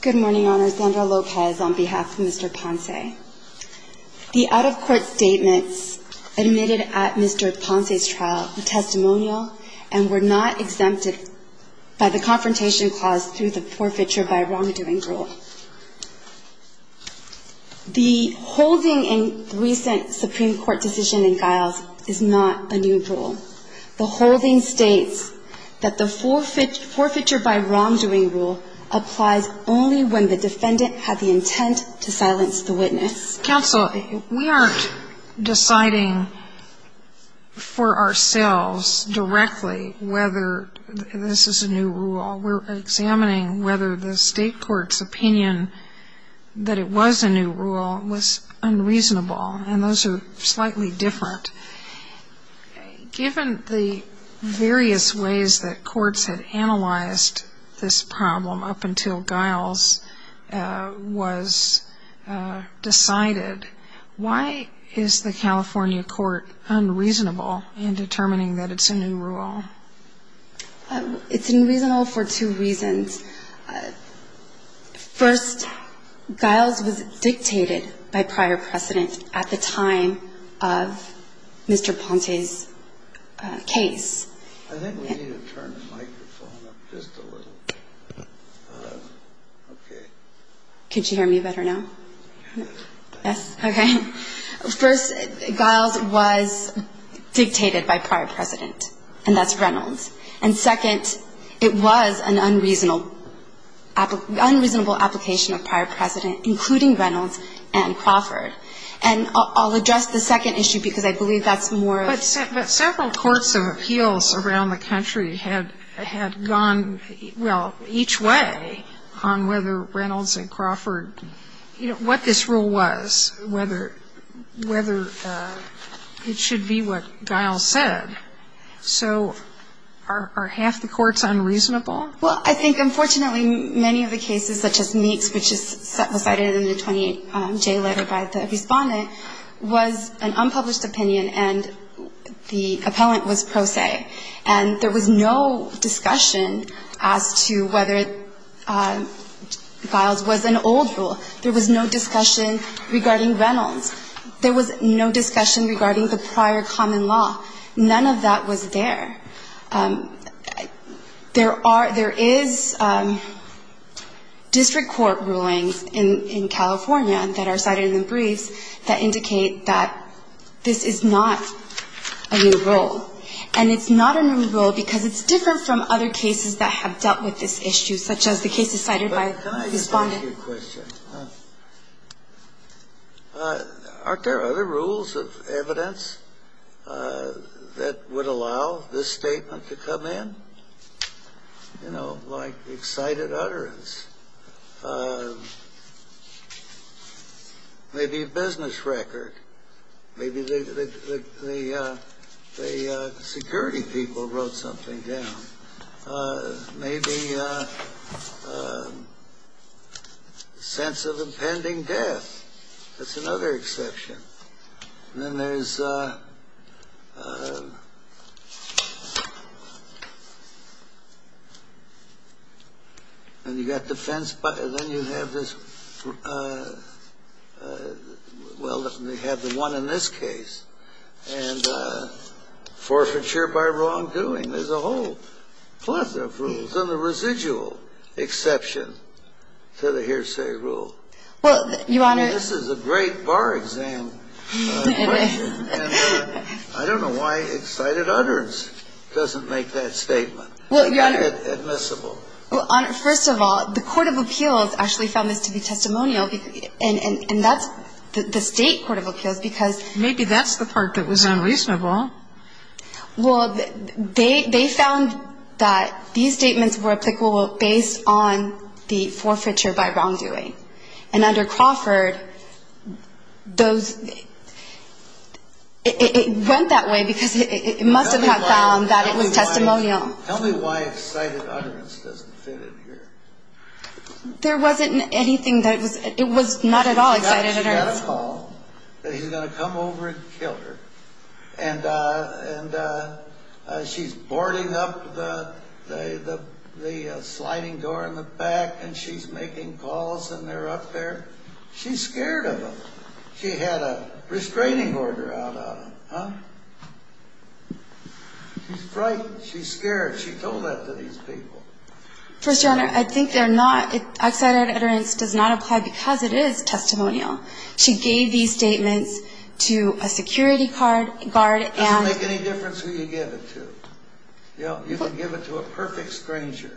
Good morning, Your Honor. Zandra Lopez on behalf of Mr. Ponce. The out-of-court statements admitted at Mr. Ponce's trial were testimonial and were not exempted by the confrontation clause through the forfeiture by wrongdoing rule. The holding in the recent Supreme Court decision in Giles is not a new rule. The holding states that the forfeiture by wrongdoing rule applies only when the defendant had the intent to silence the witness. Counsel, we aren't deciding for ourselves directly whether this is a new rule. We're examining whether the state court's opinion that it was a new rule was unreasonable, and those are slightly different. Given the various ways that courts had analyzed this problem up until Giles was decided, why is the California court unreasonable in determining that it's a new rule? It's unreasonable for two reasons. First, Giles was dictated by prior precedent at the time of Mr. Ponce's case. I think we need to turn the microphone up just a little. Okay. Could you hear me better now? Yes. Yes? Okay. First, Giles was dictated by prior precedent, and that's Reynolds. And second, it was an unreasonable application of prior precedent, including Reynolds and Crawford. And I'll address the second issue because I believe that's more of the question. The courts of appeals around the country had gone, well, each way on whether Reynolds and Crawford, you know, what this rule was, whether it should be what Giles said. So are half the courts unreasonable? Well, I think, unfortunately, many of the cases, such as Meeks, which was decided in the 28-J letter by the respondent, was an unpublished opinion, and the appellant was pro se. And there was no discussion as to whether Giles was an old rule. There was no discussion regarding Reynolds. There was no discussion regarding the prior common law. None of that was there. There are – there is district court rulings in California that are cited in the briefs that indicate that this is not a new rule. And it's not a new rule because it's different from other cases that have dealt with this issue, such as the cases cited by the respondent. But can I just ask you a question? Aren't there other rules of evidence that would allow this statement to come in? You know, like excited utterance, maybe a business record, maybe the security people wrote something down, maybe a sense of impending death. That's all. And you've got defense – then you have this – well, you have the one in this case, and forfeiture by wrongdoing. There's a whole plethora of rules, and the residual exception to the hearsay rule. Well, Your Honor – I mean, this is a great bar exam question, and I don't know why excited utterance doesn't make that statement admissible. Well, Your Honor, first of all, the court of appeals actually found this to be testimonial, and that's the State court of appeals, because – Maybe that's the part that was unreasonable. Well, they found that these statements were applicable based on the forfeiture by wrongdoing. And under Crawford, those – it went that way because it must have found that it was testimonial. Tell me why excited utterance doesn't fit in here. There wasn't anything that was – it was not at all excited utterance. She got a call that he's going to come over and kill her, and she's boarding up the sliding door in the back, and she's making calls, and they're up there. She's scared of him. She had a restraining order out on him, huh? She's frightened. She's scared. She told that to these people. First Your Honor, I think they're not – excited utterance does not apply because it is testimonial. She gave these statements to a security guard and – It doesn't make a difference who you give it to. You know, you can give it to a perfect stranger.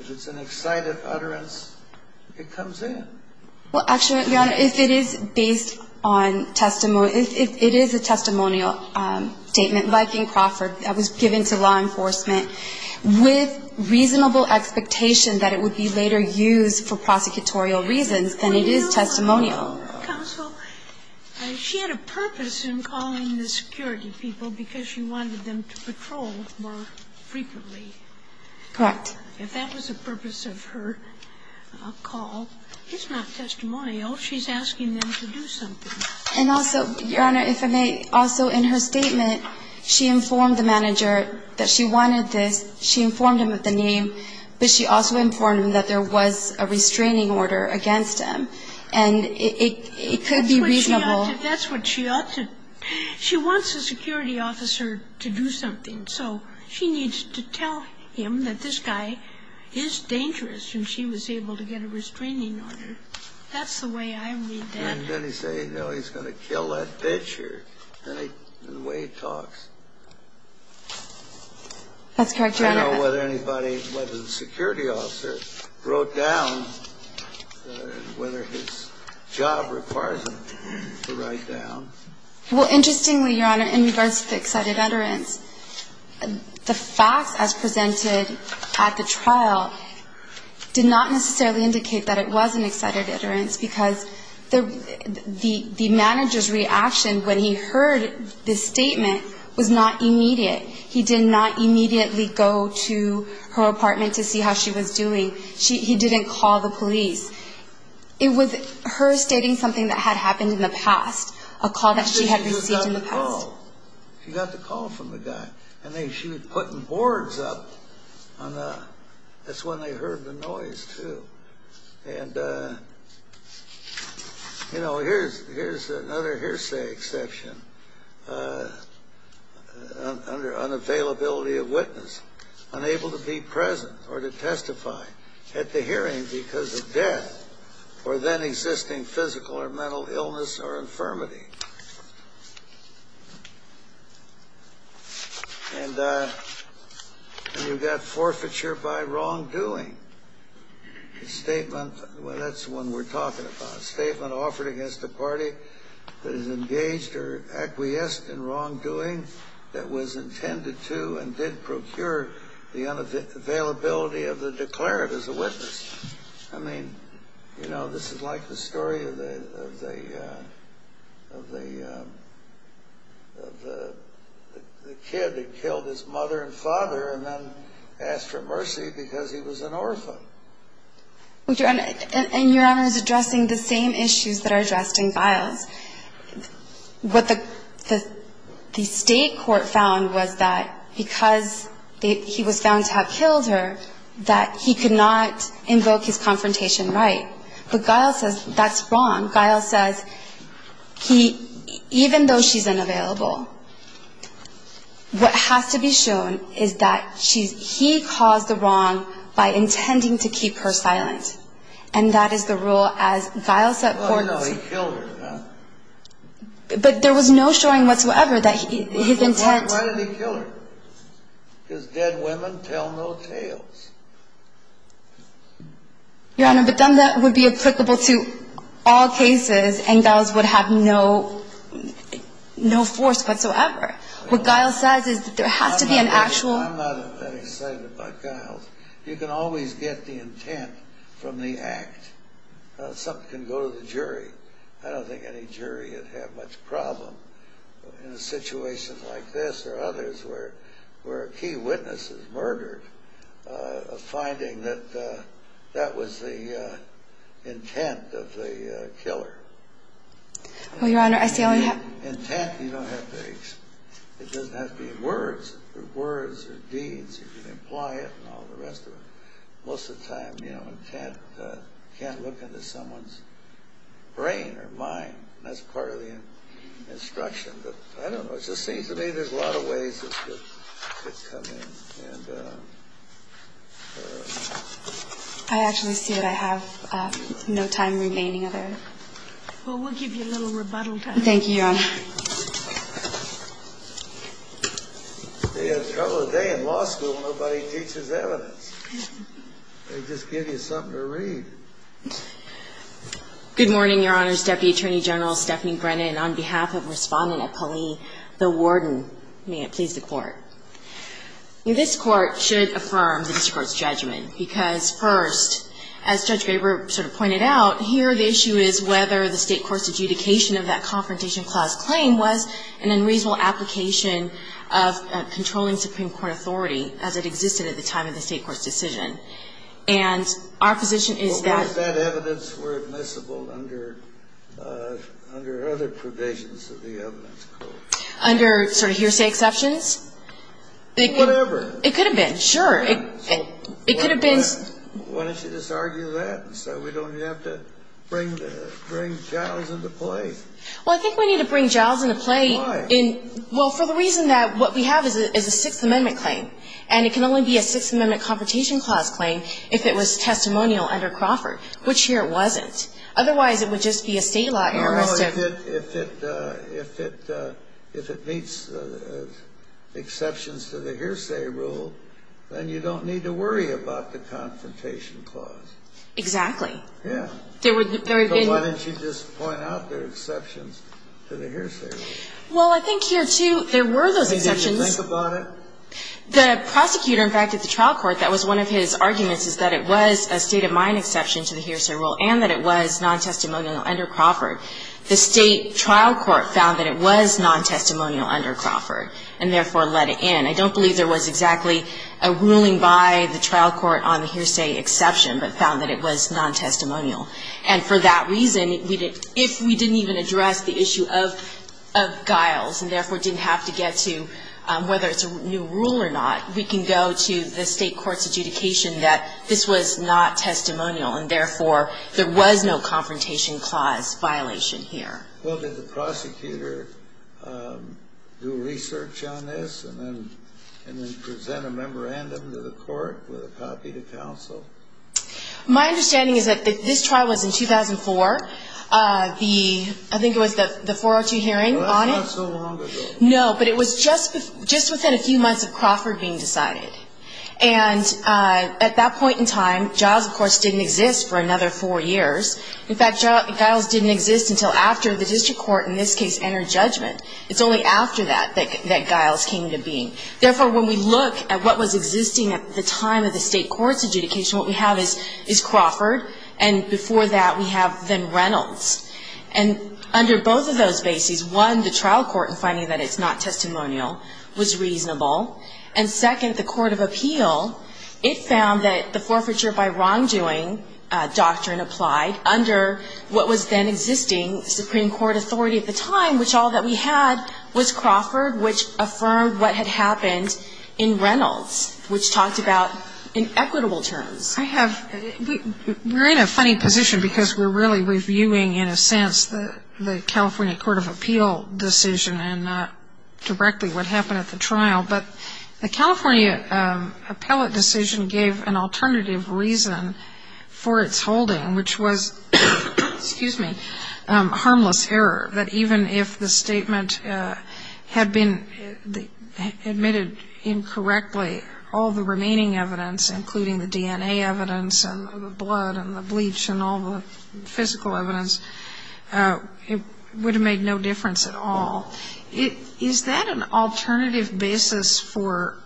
If it's an excited utterance, it comes in. Well, actually, Your Honor, if it is based on – if it is a testimonial statement like in Crawford that was given to law enforcement with reasonable expectation that it would be later used for prosecutorial reasons, then it is testimonial. Well, Your Honor, counsel, she had a purpose in calling the security people because she wanted them to patrol more frequently. Correct. If that was the purpose of her call, it's not testimonial. She's asking them to do something. And also, Your Honor, if I may, also in her statement, she informed the manager that she wanted this. She informed him of the name, but she also informed him that there was a restraining order against him, and it could be reasonable. That's what she ought to – she wants a security officer to do something, so she needs to tell him that this guy is dangerous, and she was able to get a restraining order. That's the way I read that. And then he's saying, no, he's going to kill that bitch, or the way he talks. That's correct, Your Honor. I don't know whether anybody, whether the security officer wrote down whether his job requires him to write down. Well, interestingly, Your Honor, in regards to the excited utterance, the facts as presented at the trial did not necessarily indicate that it was an excited utterance because the manager's reaction when he heard the statement was not immediate. He did not immediately go to her apartment to see how she was doing. He didn't call the police. It was her stating something that had happened in the past, a call that she had received in the past. She got the call from the guy, and she was putting boards up on the – that's when they heard the noise, too. And, you know, here's another hearsay exception. Under unavailability of witness, unable to be present or to testify at the hearing because of death or then existing physical or mental illness or infirmity. And you've got forfeiture by wrongdoing. The statement – well, that's the one we're talking about. A statement offered against a party that is engaged or acquiesced in wrongdoing that was intended to and did procure the unavailability of the declarative as a witness. I mean, you know, this is like the story of the kid that killed his mother and father and then asked for mercy because he was an orphan. Well, Your Honor, and Your Honor is addressing the same issues that are addressed in Files. What the state court found was that because he was found to have killed her, that he could not invoke his confrontation right. But Guile says that's wrong. Guile says even though she's unavailable, what has to be shown is that he caused the wrong by intending to keep her silent. And that is the rule as Guile set forth. Well, no, he killed her. But there was no showing whatsoever that his intent – Your Honor, but then that would be applicable to all cases and Guile's would have no force whatsoever. What Guile says is that there has to be an actual – I'm not that excited about Guile's. You can always get the intent from the act. Something can go to the jury. I don't think any jury would have much problem in a situation like this or others where a key witness is murdered, finding that that was the intent of the killer. Well, Your Honor, I see all you have – Intent, you don't have to – it doesn't have to be words. Words or deeds, you can imply it and all the rest of it. Most of the time, you know, intent can't look into someone's brain or mind. That's part of the instruction. I don't know. It just seems to me there's a lot of ways it could come in. And I actually see that I have no time remaining of it. Well, we'll give you a little rebuttal time. Thank you, Your Honor. They have trouble today in law school. Nobody teaches evidence. They just give you something to read. Good morning, Your Honor's Deputy Attorney General Stephanie Brennan. Good morning, Your Honor's Deputy Attorney General Stephanie Brennan. On behalf of Respondent Appali, the warden, may it please the Court. This Court should affirm the district court's judgment because, first, as Judge Baber sort of pointed out, here the issue is whether the state court's adjudication of that Confrontation Clause claim was an unreasonable application of controlling Supreme Court authority as it existed at the time of the state court's decision. And our position is that that evidence were admissible under other provisions of the evidence code. Under sort of hearsay exceptions? Whatever. It could have been. Sure. It could have been. Why don't you just argue that so we don't have to bring jowls into play? Well, I think we need to bring jowls into play. Why? Well, for the reason that what we have is a Sixth Amendment claim. And it can only be a Sixth Amendment Confrontation Clause claim if it was testimonial under Crawford, which here it wasn't. Otherwise, it would just be a state law error. Well, if it meets exceptions to the hearsay rule, then you don't need to worry about the Confrontation Clause. Exactly. Yeah. There would be. Why don't you just point out the exceptions to the hearsay rule? Well, I think here, too, there were those exceptions. Think about it. The prosecutor, in fact, at the trial court, that was one of his arguments, is that it was a state-of-mind exception to the hearsay rule and that it was non-testimonial under Crawford. The state trial court found that it was non-testimonial under Crawford and, therefore, let it in. I don't believe there was exactly a ruling by the trial court on the hearsay exception, but found that it was non-testimonial. And for that reason, if we didn't even address the issue of guiles and, therefore, didn't have to get to whether it's a new rule or not, we can go to the state court's adjudication that this was not testimonial and, therefore, there was no Confrontation Clause violation here. Well, did the prosecutor do research on this and then present a memorandum to the court with a copy to counsel? My understanding is that this trial was in 2004. I think it was the 402 hearing on it. Not so long ago. No, but it was just within a few months of Crawford being decided. And at that point in time, guiles, of course, didn't exist for another four years. In fact, guiles didn't exist until after the district court, in this case, entered judgment. It's only after that that guiles came into being. Therefore, when we look at what was existing at the time of the state court's adjudication, what we have is Crawford, and before that we have then Reynolds. And under both of those bases, one, the trial court in finding that it's not testimonial was reasonable. And, second, the court of appeal, it found that the forfeiture by wrongdoing doctrine applied under what was then existing Supreme Court authority at the time, which all that we had was Crawford, which affirmed what had happened in Reynolds, which talked about inequitable terms. I have, we're in a funny position because we're really reviewing, in a sense, the California court of appeal decision and not directly what happened at the trial. But the California appellate decision gave an alternative reason for its holding, which was, excuse me, harmless error. That even if the statement had been admitted incorrectly, all the remaining evidence, including the DNA evidence and the blood and the bleach and all the physical evidence, it would have made no difference at all. Is that an alternative basis for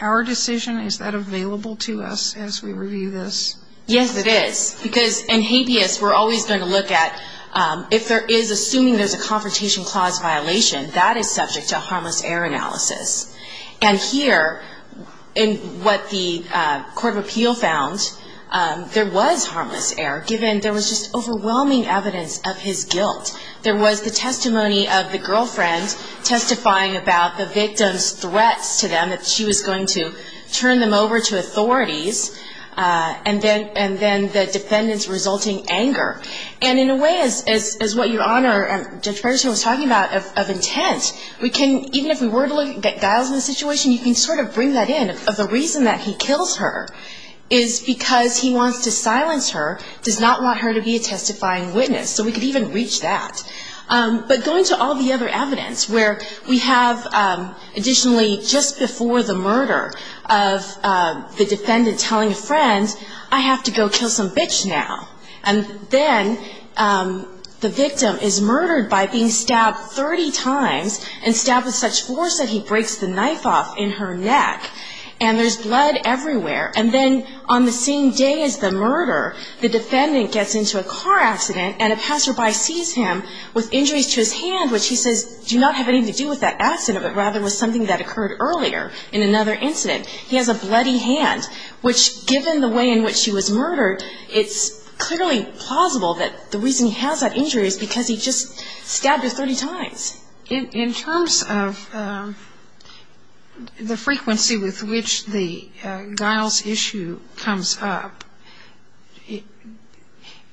our decision? Is that available to us as we review this? Yes, it is. Because in habeas, we're always going to look at if there is, assuming there's a confrontation clause violation, that is subject to a harmless error analysis. And here, in what the court of appeal found, there was harmless error, given there was just overwhelming evidence of his guilt. There was the testimony of the girlfriend testifying about the victim's threats to them, that she was going to turn them over to authorities, and then the defendant's resulting anger. And in a way, as what your Honor, Judge Ferguson, was talking about of intent, we can, even if we were to look at Giles in this situation, you can sort of bring that in, of the reason that he kills her, is because he wants to silence her, does not want her to be a testifying witness. So we could even reach that. But going to all the other evidence, where we have, additionally, just before the murder of the defendant telling a friend, I have to go kill some bitch now. And then the victim is murdered by being stabbed 30 times, and stabbed with such force that he breaks the knife off in her neck. And there's blood everywhere. And then on the same day as the murder, the defendant gets into a car accident, and a passerby sees him with injuries to his hand, which he says, do not have anything to do with that accident, but rather was something that occurred earlier in another incident. He has a bloody hand, which, given the way in which she was murdered, it's clearly plausible that the reason he has that injury is because he just stabbed her 30 times. In terms of the frequency with which the Giles issue comes up,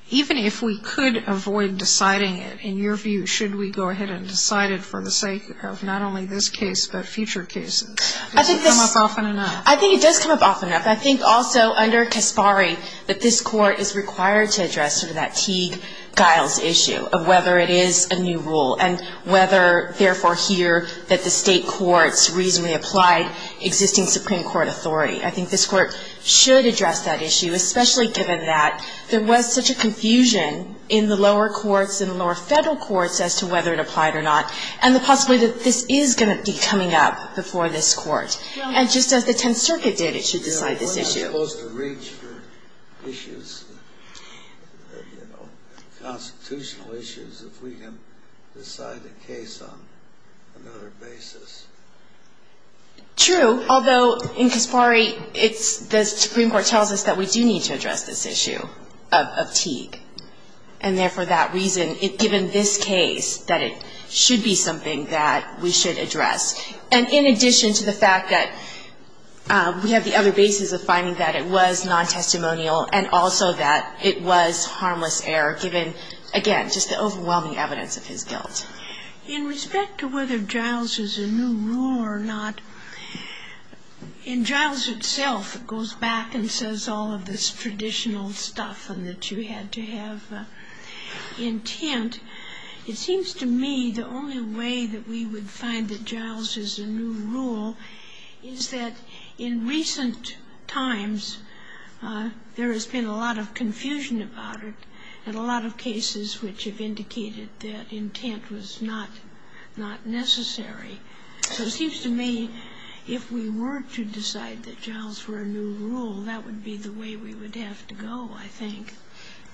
even if we could avoid deciding it, in your view, should we go ahead and decide it for the sake of not only this case, but future cases? Does it come up often enough? I think it does come up often enough. I think also under Kaspari that this Court is required to address sort of that Teague-Giles issue of whether it is a new rule, and whether, therefore, here, that the state courts reasonably applied existing Supreme Court authority. I think this Court should address that issue, especially given that there was such a confusion in the lower courts and the lower federal courts as to whether it applied or not, and the possibility that this is going to be coming up before this Court. And just as the Tenth Circuit did, it should decide this issue. We're not supposed to reach for issues, you know, constitutional issues, if we can decide a case on another basis. True, although in Kaspari, the Supreme Court tells us that we do need to address this issue of Teague. And therefore, that reason, given this case, that it should be something that we should address. And in addition to the fact that we have the other basis of finding that it was non-testimonial and also that it was harmless error, given, again, just the overwhelming evidence of his guilt. In respect to whether Giles is a new rule or not, in Giles itself, it goes back and says all of this traditional stuff and that you had to have intent. It seems to me the only way that we would find that Giles is a new rule is that in recent times there has been a lot of confusion about it and a lot of cases which have indicated that intent was not necessary. So it seems to me if we were to decide that Giles were a new rule, that would be the way we would have to go, I think.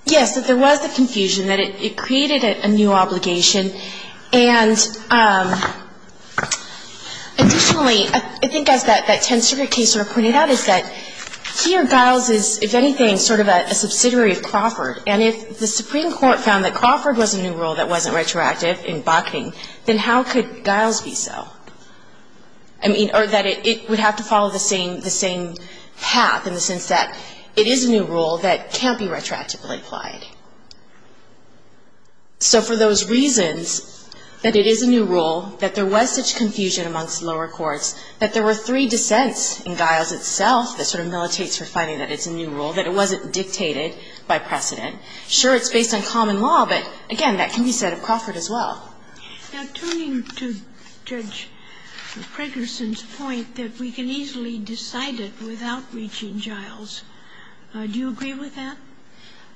Yes, that there was the confusion that it created a new obligation. And additionally, I think as that Tenth Circuit case sort of pointed out, is that here Giles is, if anything, sort of a subsidiary of Crawford. And if the Supreme Court found that Crawford was a new rule that wasn't retroactive in Bakkening, then how could Giles be so? I mean, or that it would have to follow the same path in the sense that it is a new rule that can't be retroactively applied. So for those reasons that it is a new rule, that there was such confusion amongst lower courts, that there were three dissents in Giles itself that sort of militates for finding that it's a new rule, that it wasn't dictated by precedent. Sure, it's based on common law, but again, that can be said of Crawford as well. Now, turning to Judge Fragerson's point that we can easily decide it without reaching Giles, do you agree with that?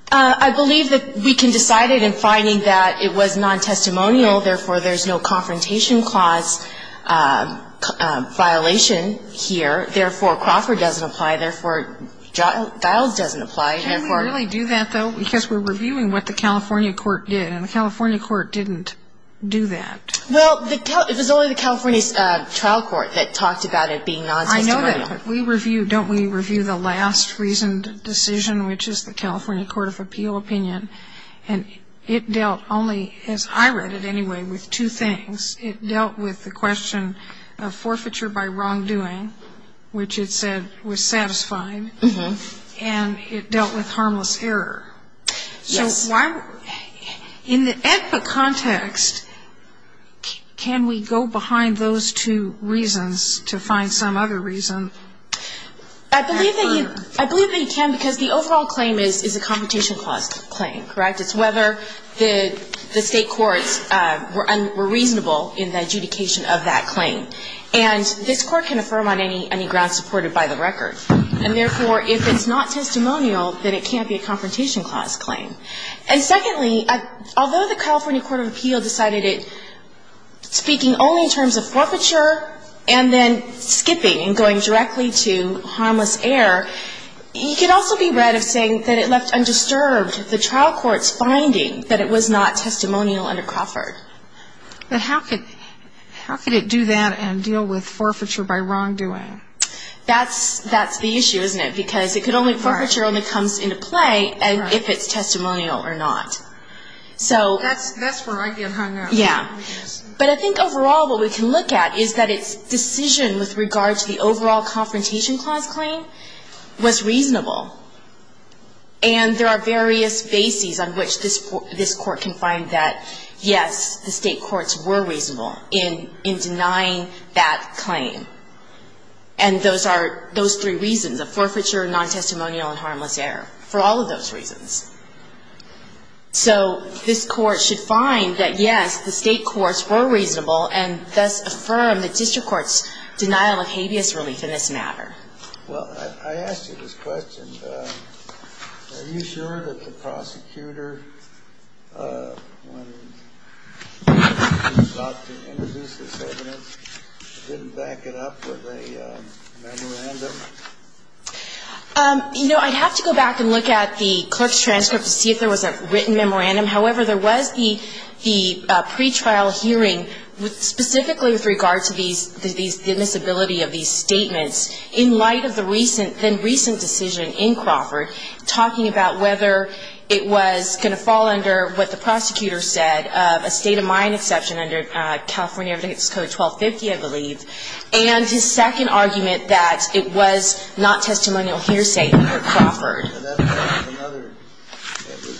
I believe that we can decide it in finding that it was non-testimonial, therefore, there's no confrontation clause violation here. Therefore, Crawford doesn't apply. Therefore, Giles doesn't apply. Can we really do that, though? Because we're reviewing what the California court did, and the California court didn't do that. Well, it was only the California trial court that talked about it being non-testimonial. I know that, but we review, don't we review the last reasoned decision, which is the California court of appeal opinion, and it dealt only, as I read it anyway, with two things. It dealt with the question of forfeiture by wrongdoing, which it said was satisfying, and it dealt with harmless error. Yes. In the AEDPA context, can we go behind those two reasons to find some other reason? I believe that you can because the overall claim is a confrontation clause claim, correct? It's whether the State courts were reasonable in the adjudication of that claim. And this Court can affirm on any grounds supported by the record. And therefore, if it's not testimonial, then it can't be a confrontation clause claim. And secondly, although the California court of appeal decided it, speaking only in terms of forfeiture and then skipping and going directly to harmless error, you can also be read of saying that it left undisturbed the trial court's finding that it was not testimonial under Crawford. But how could it do that and deal with forfeiture by wrongdoing? That's the issue, isn't it? Because forfeiture only comes into play if it's testimonial or not. That's where I get hung up. Yeah. But I think overall what we can look at is that its decision with regard to the overall confrontation clause claim was reasonable. And there are various bases on which this Court can find that, yes, the State courts were reasonable in denying that claim. And those are those three reasons of forfeiture, non-testimonial, and harmless error, for all of those reasons. So this Court should find that, yes, the State courts were reasonable and thus affirm the district court's denial of habeas relief in this matter. Well, I asked you this question. And are you sure that the prosecutor, when he sought to introduce this evidence, didn't back it up with a memorandum? You know, I'd have to go back and look at the clerk's transcript to see if there was a written memorandum. However, there was the pretrial hearing specifically with regard to these, the admissibility of these statements in light of the recent, then-recent decision in Crawford talking about whether it was going to fall under what the prosecutor said of a state-of-mind exception under California Evidence Code 1250, I believe, and his second argument that it was not testimonial hearsay under Crawford. It was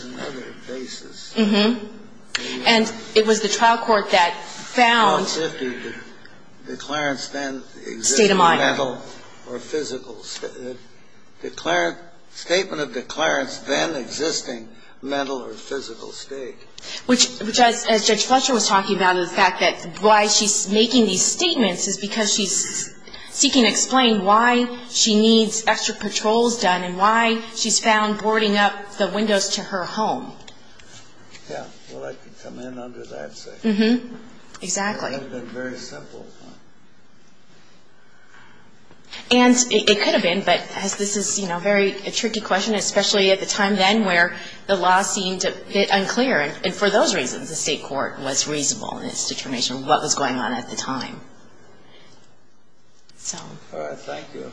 another basis. And it was the trial court that found state-of-mind. Statement of declarants then existing mental or physical state. Which, as Judge Fletcher was talking about, the fact that why she's making these statements is because she's seeking to explain why she needs extra patrols done and why she's found boarding up the windows to her home. Yeah. Well, I can come in under that. Exactly. That would have been very simple. And it could have been, but as this is, you know, a very tricky question, especially at the time then where the law seemed a bit unclear. And for those reasons, the state court was reasonable in its determination of what was going on at the time. So. All right. Thank you.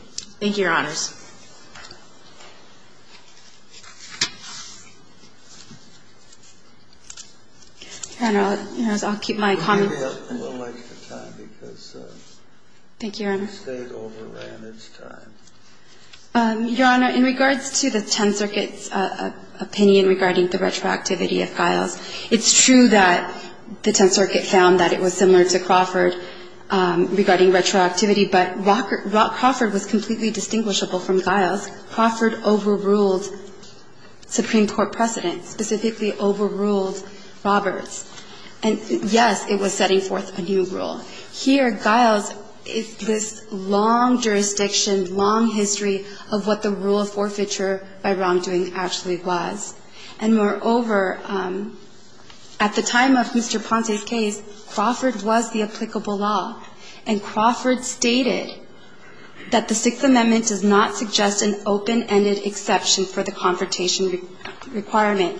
Thank you, Your Honors. Your Honor, I'll keep my comment. We'll give you a little extra time because the State overran its time. Thank you, Your Honor. Your Honor, in regards to the Tenth Circuit's opinion regarding the retroactivity of Files, it's true that the Tenth Circuit found that it was similar to Crawford regarding retroactivity, but Rock Crawford was completely distinguishable from Giles. Crawford overruled Supreme Court precedent, specifically overruled Roberts. And, yes, it was setting forth a new rule. Here, Giles is this long jurisdiction, long history of what the rule of forfeiture by wrongdoing actually was. And, moreover, at the time of Mr. Ponce's case, Crawford was the applicable law. And Crawford stated that the Sixth Amendment does not suggest an open-ended exception for the confrontation requirement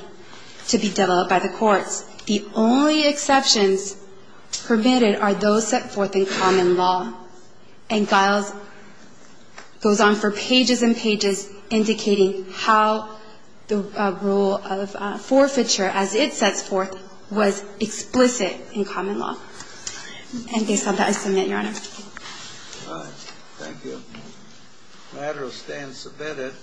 to be developed by the courts. The only exceptions permitted are those set forth in common law. And Giles goes on for pages and pages indicating how the rule of forfeiture, as it sets forth, was explicit in common law. And based on that, I submit, Your Honor. All right. Thank you. The matter stands submitted.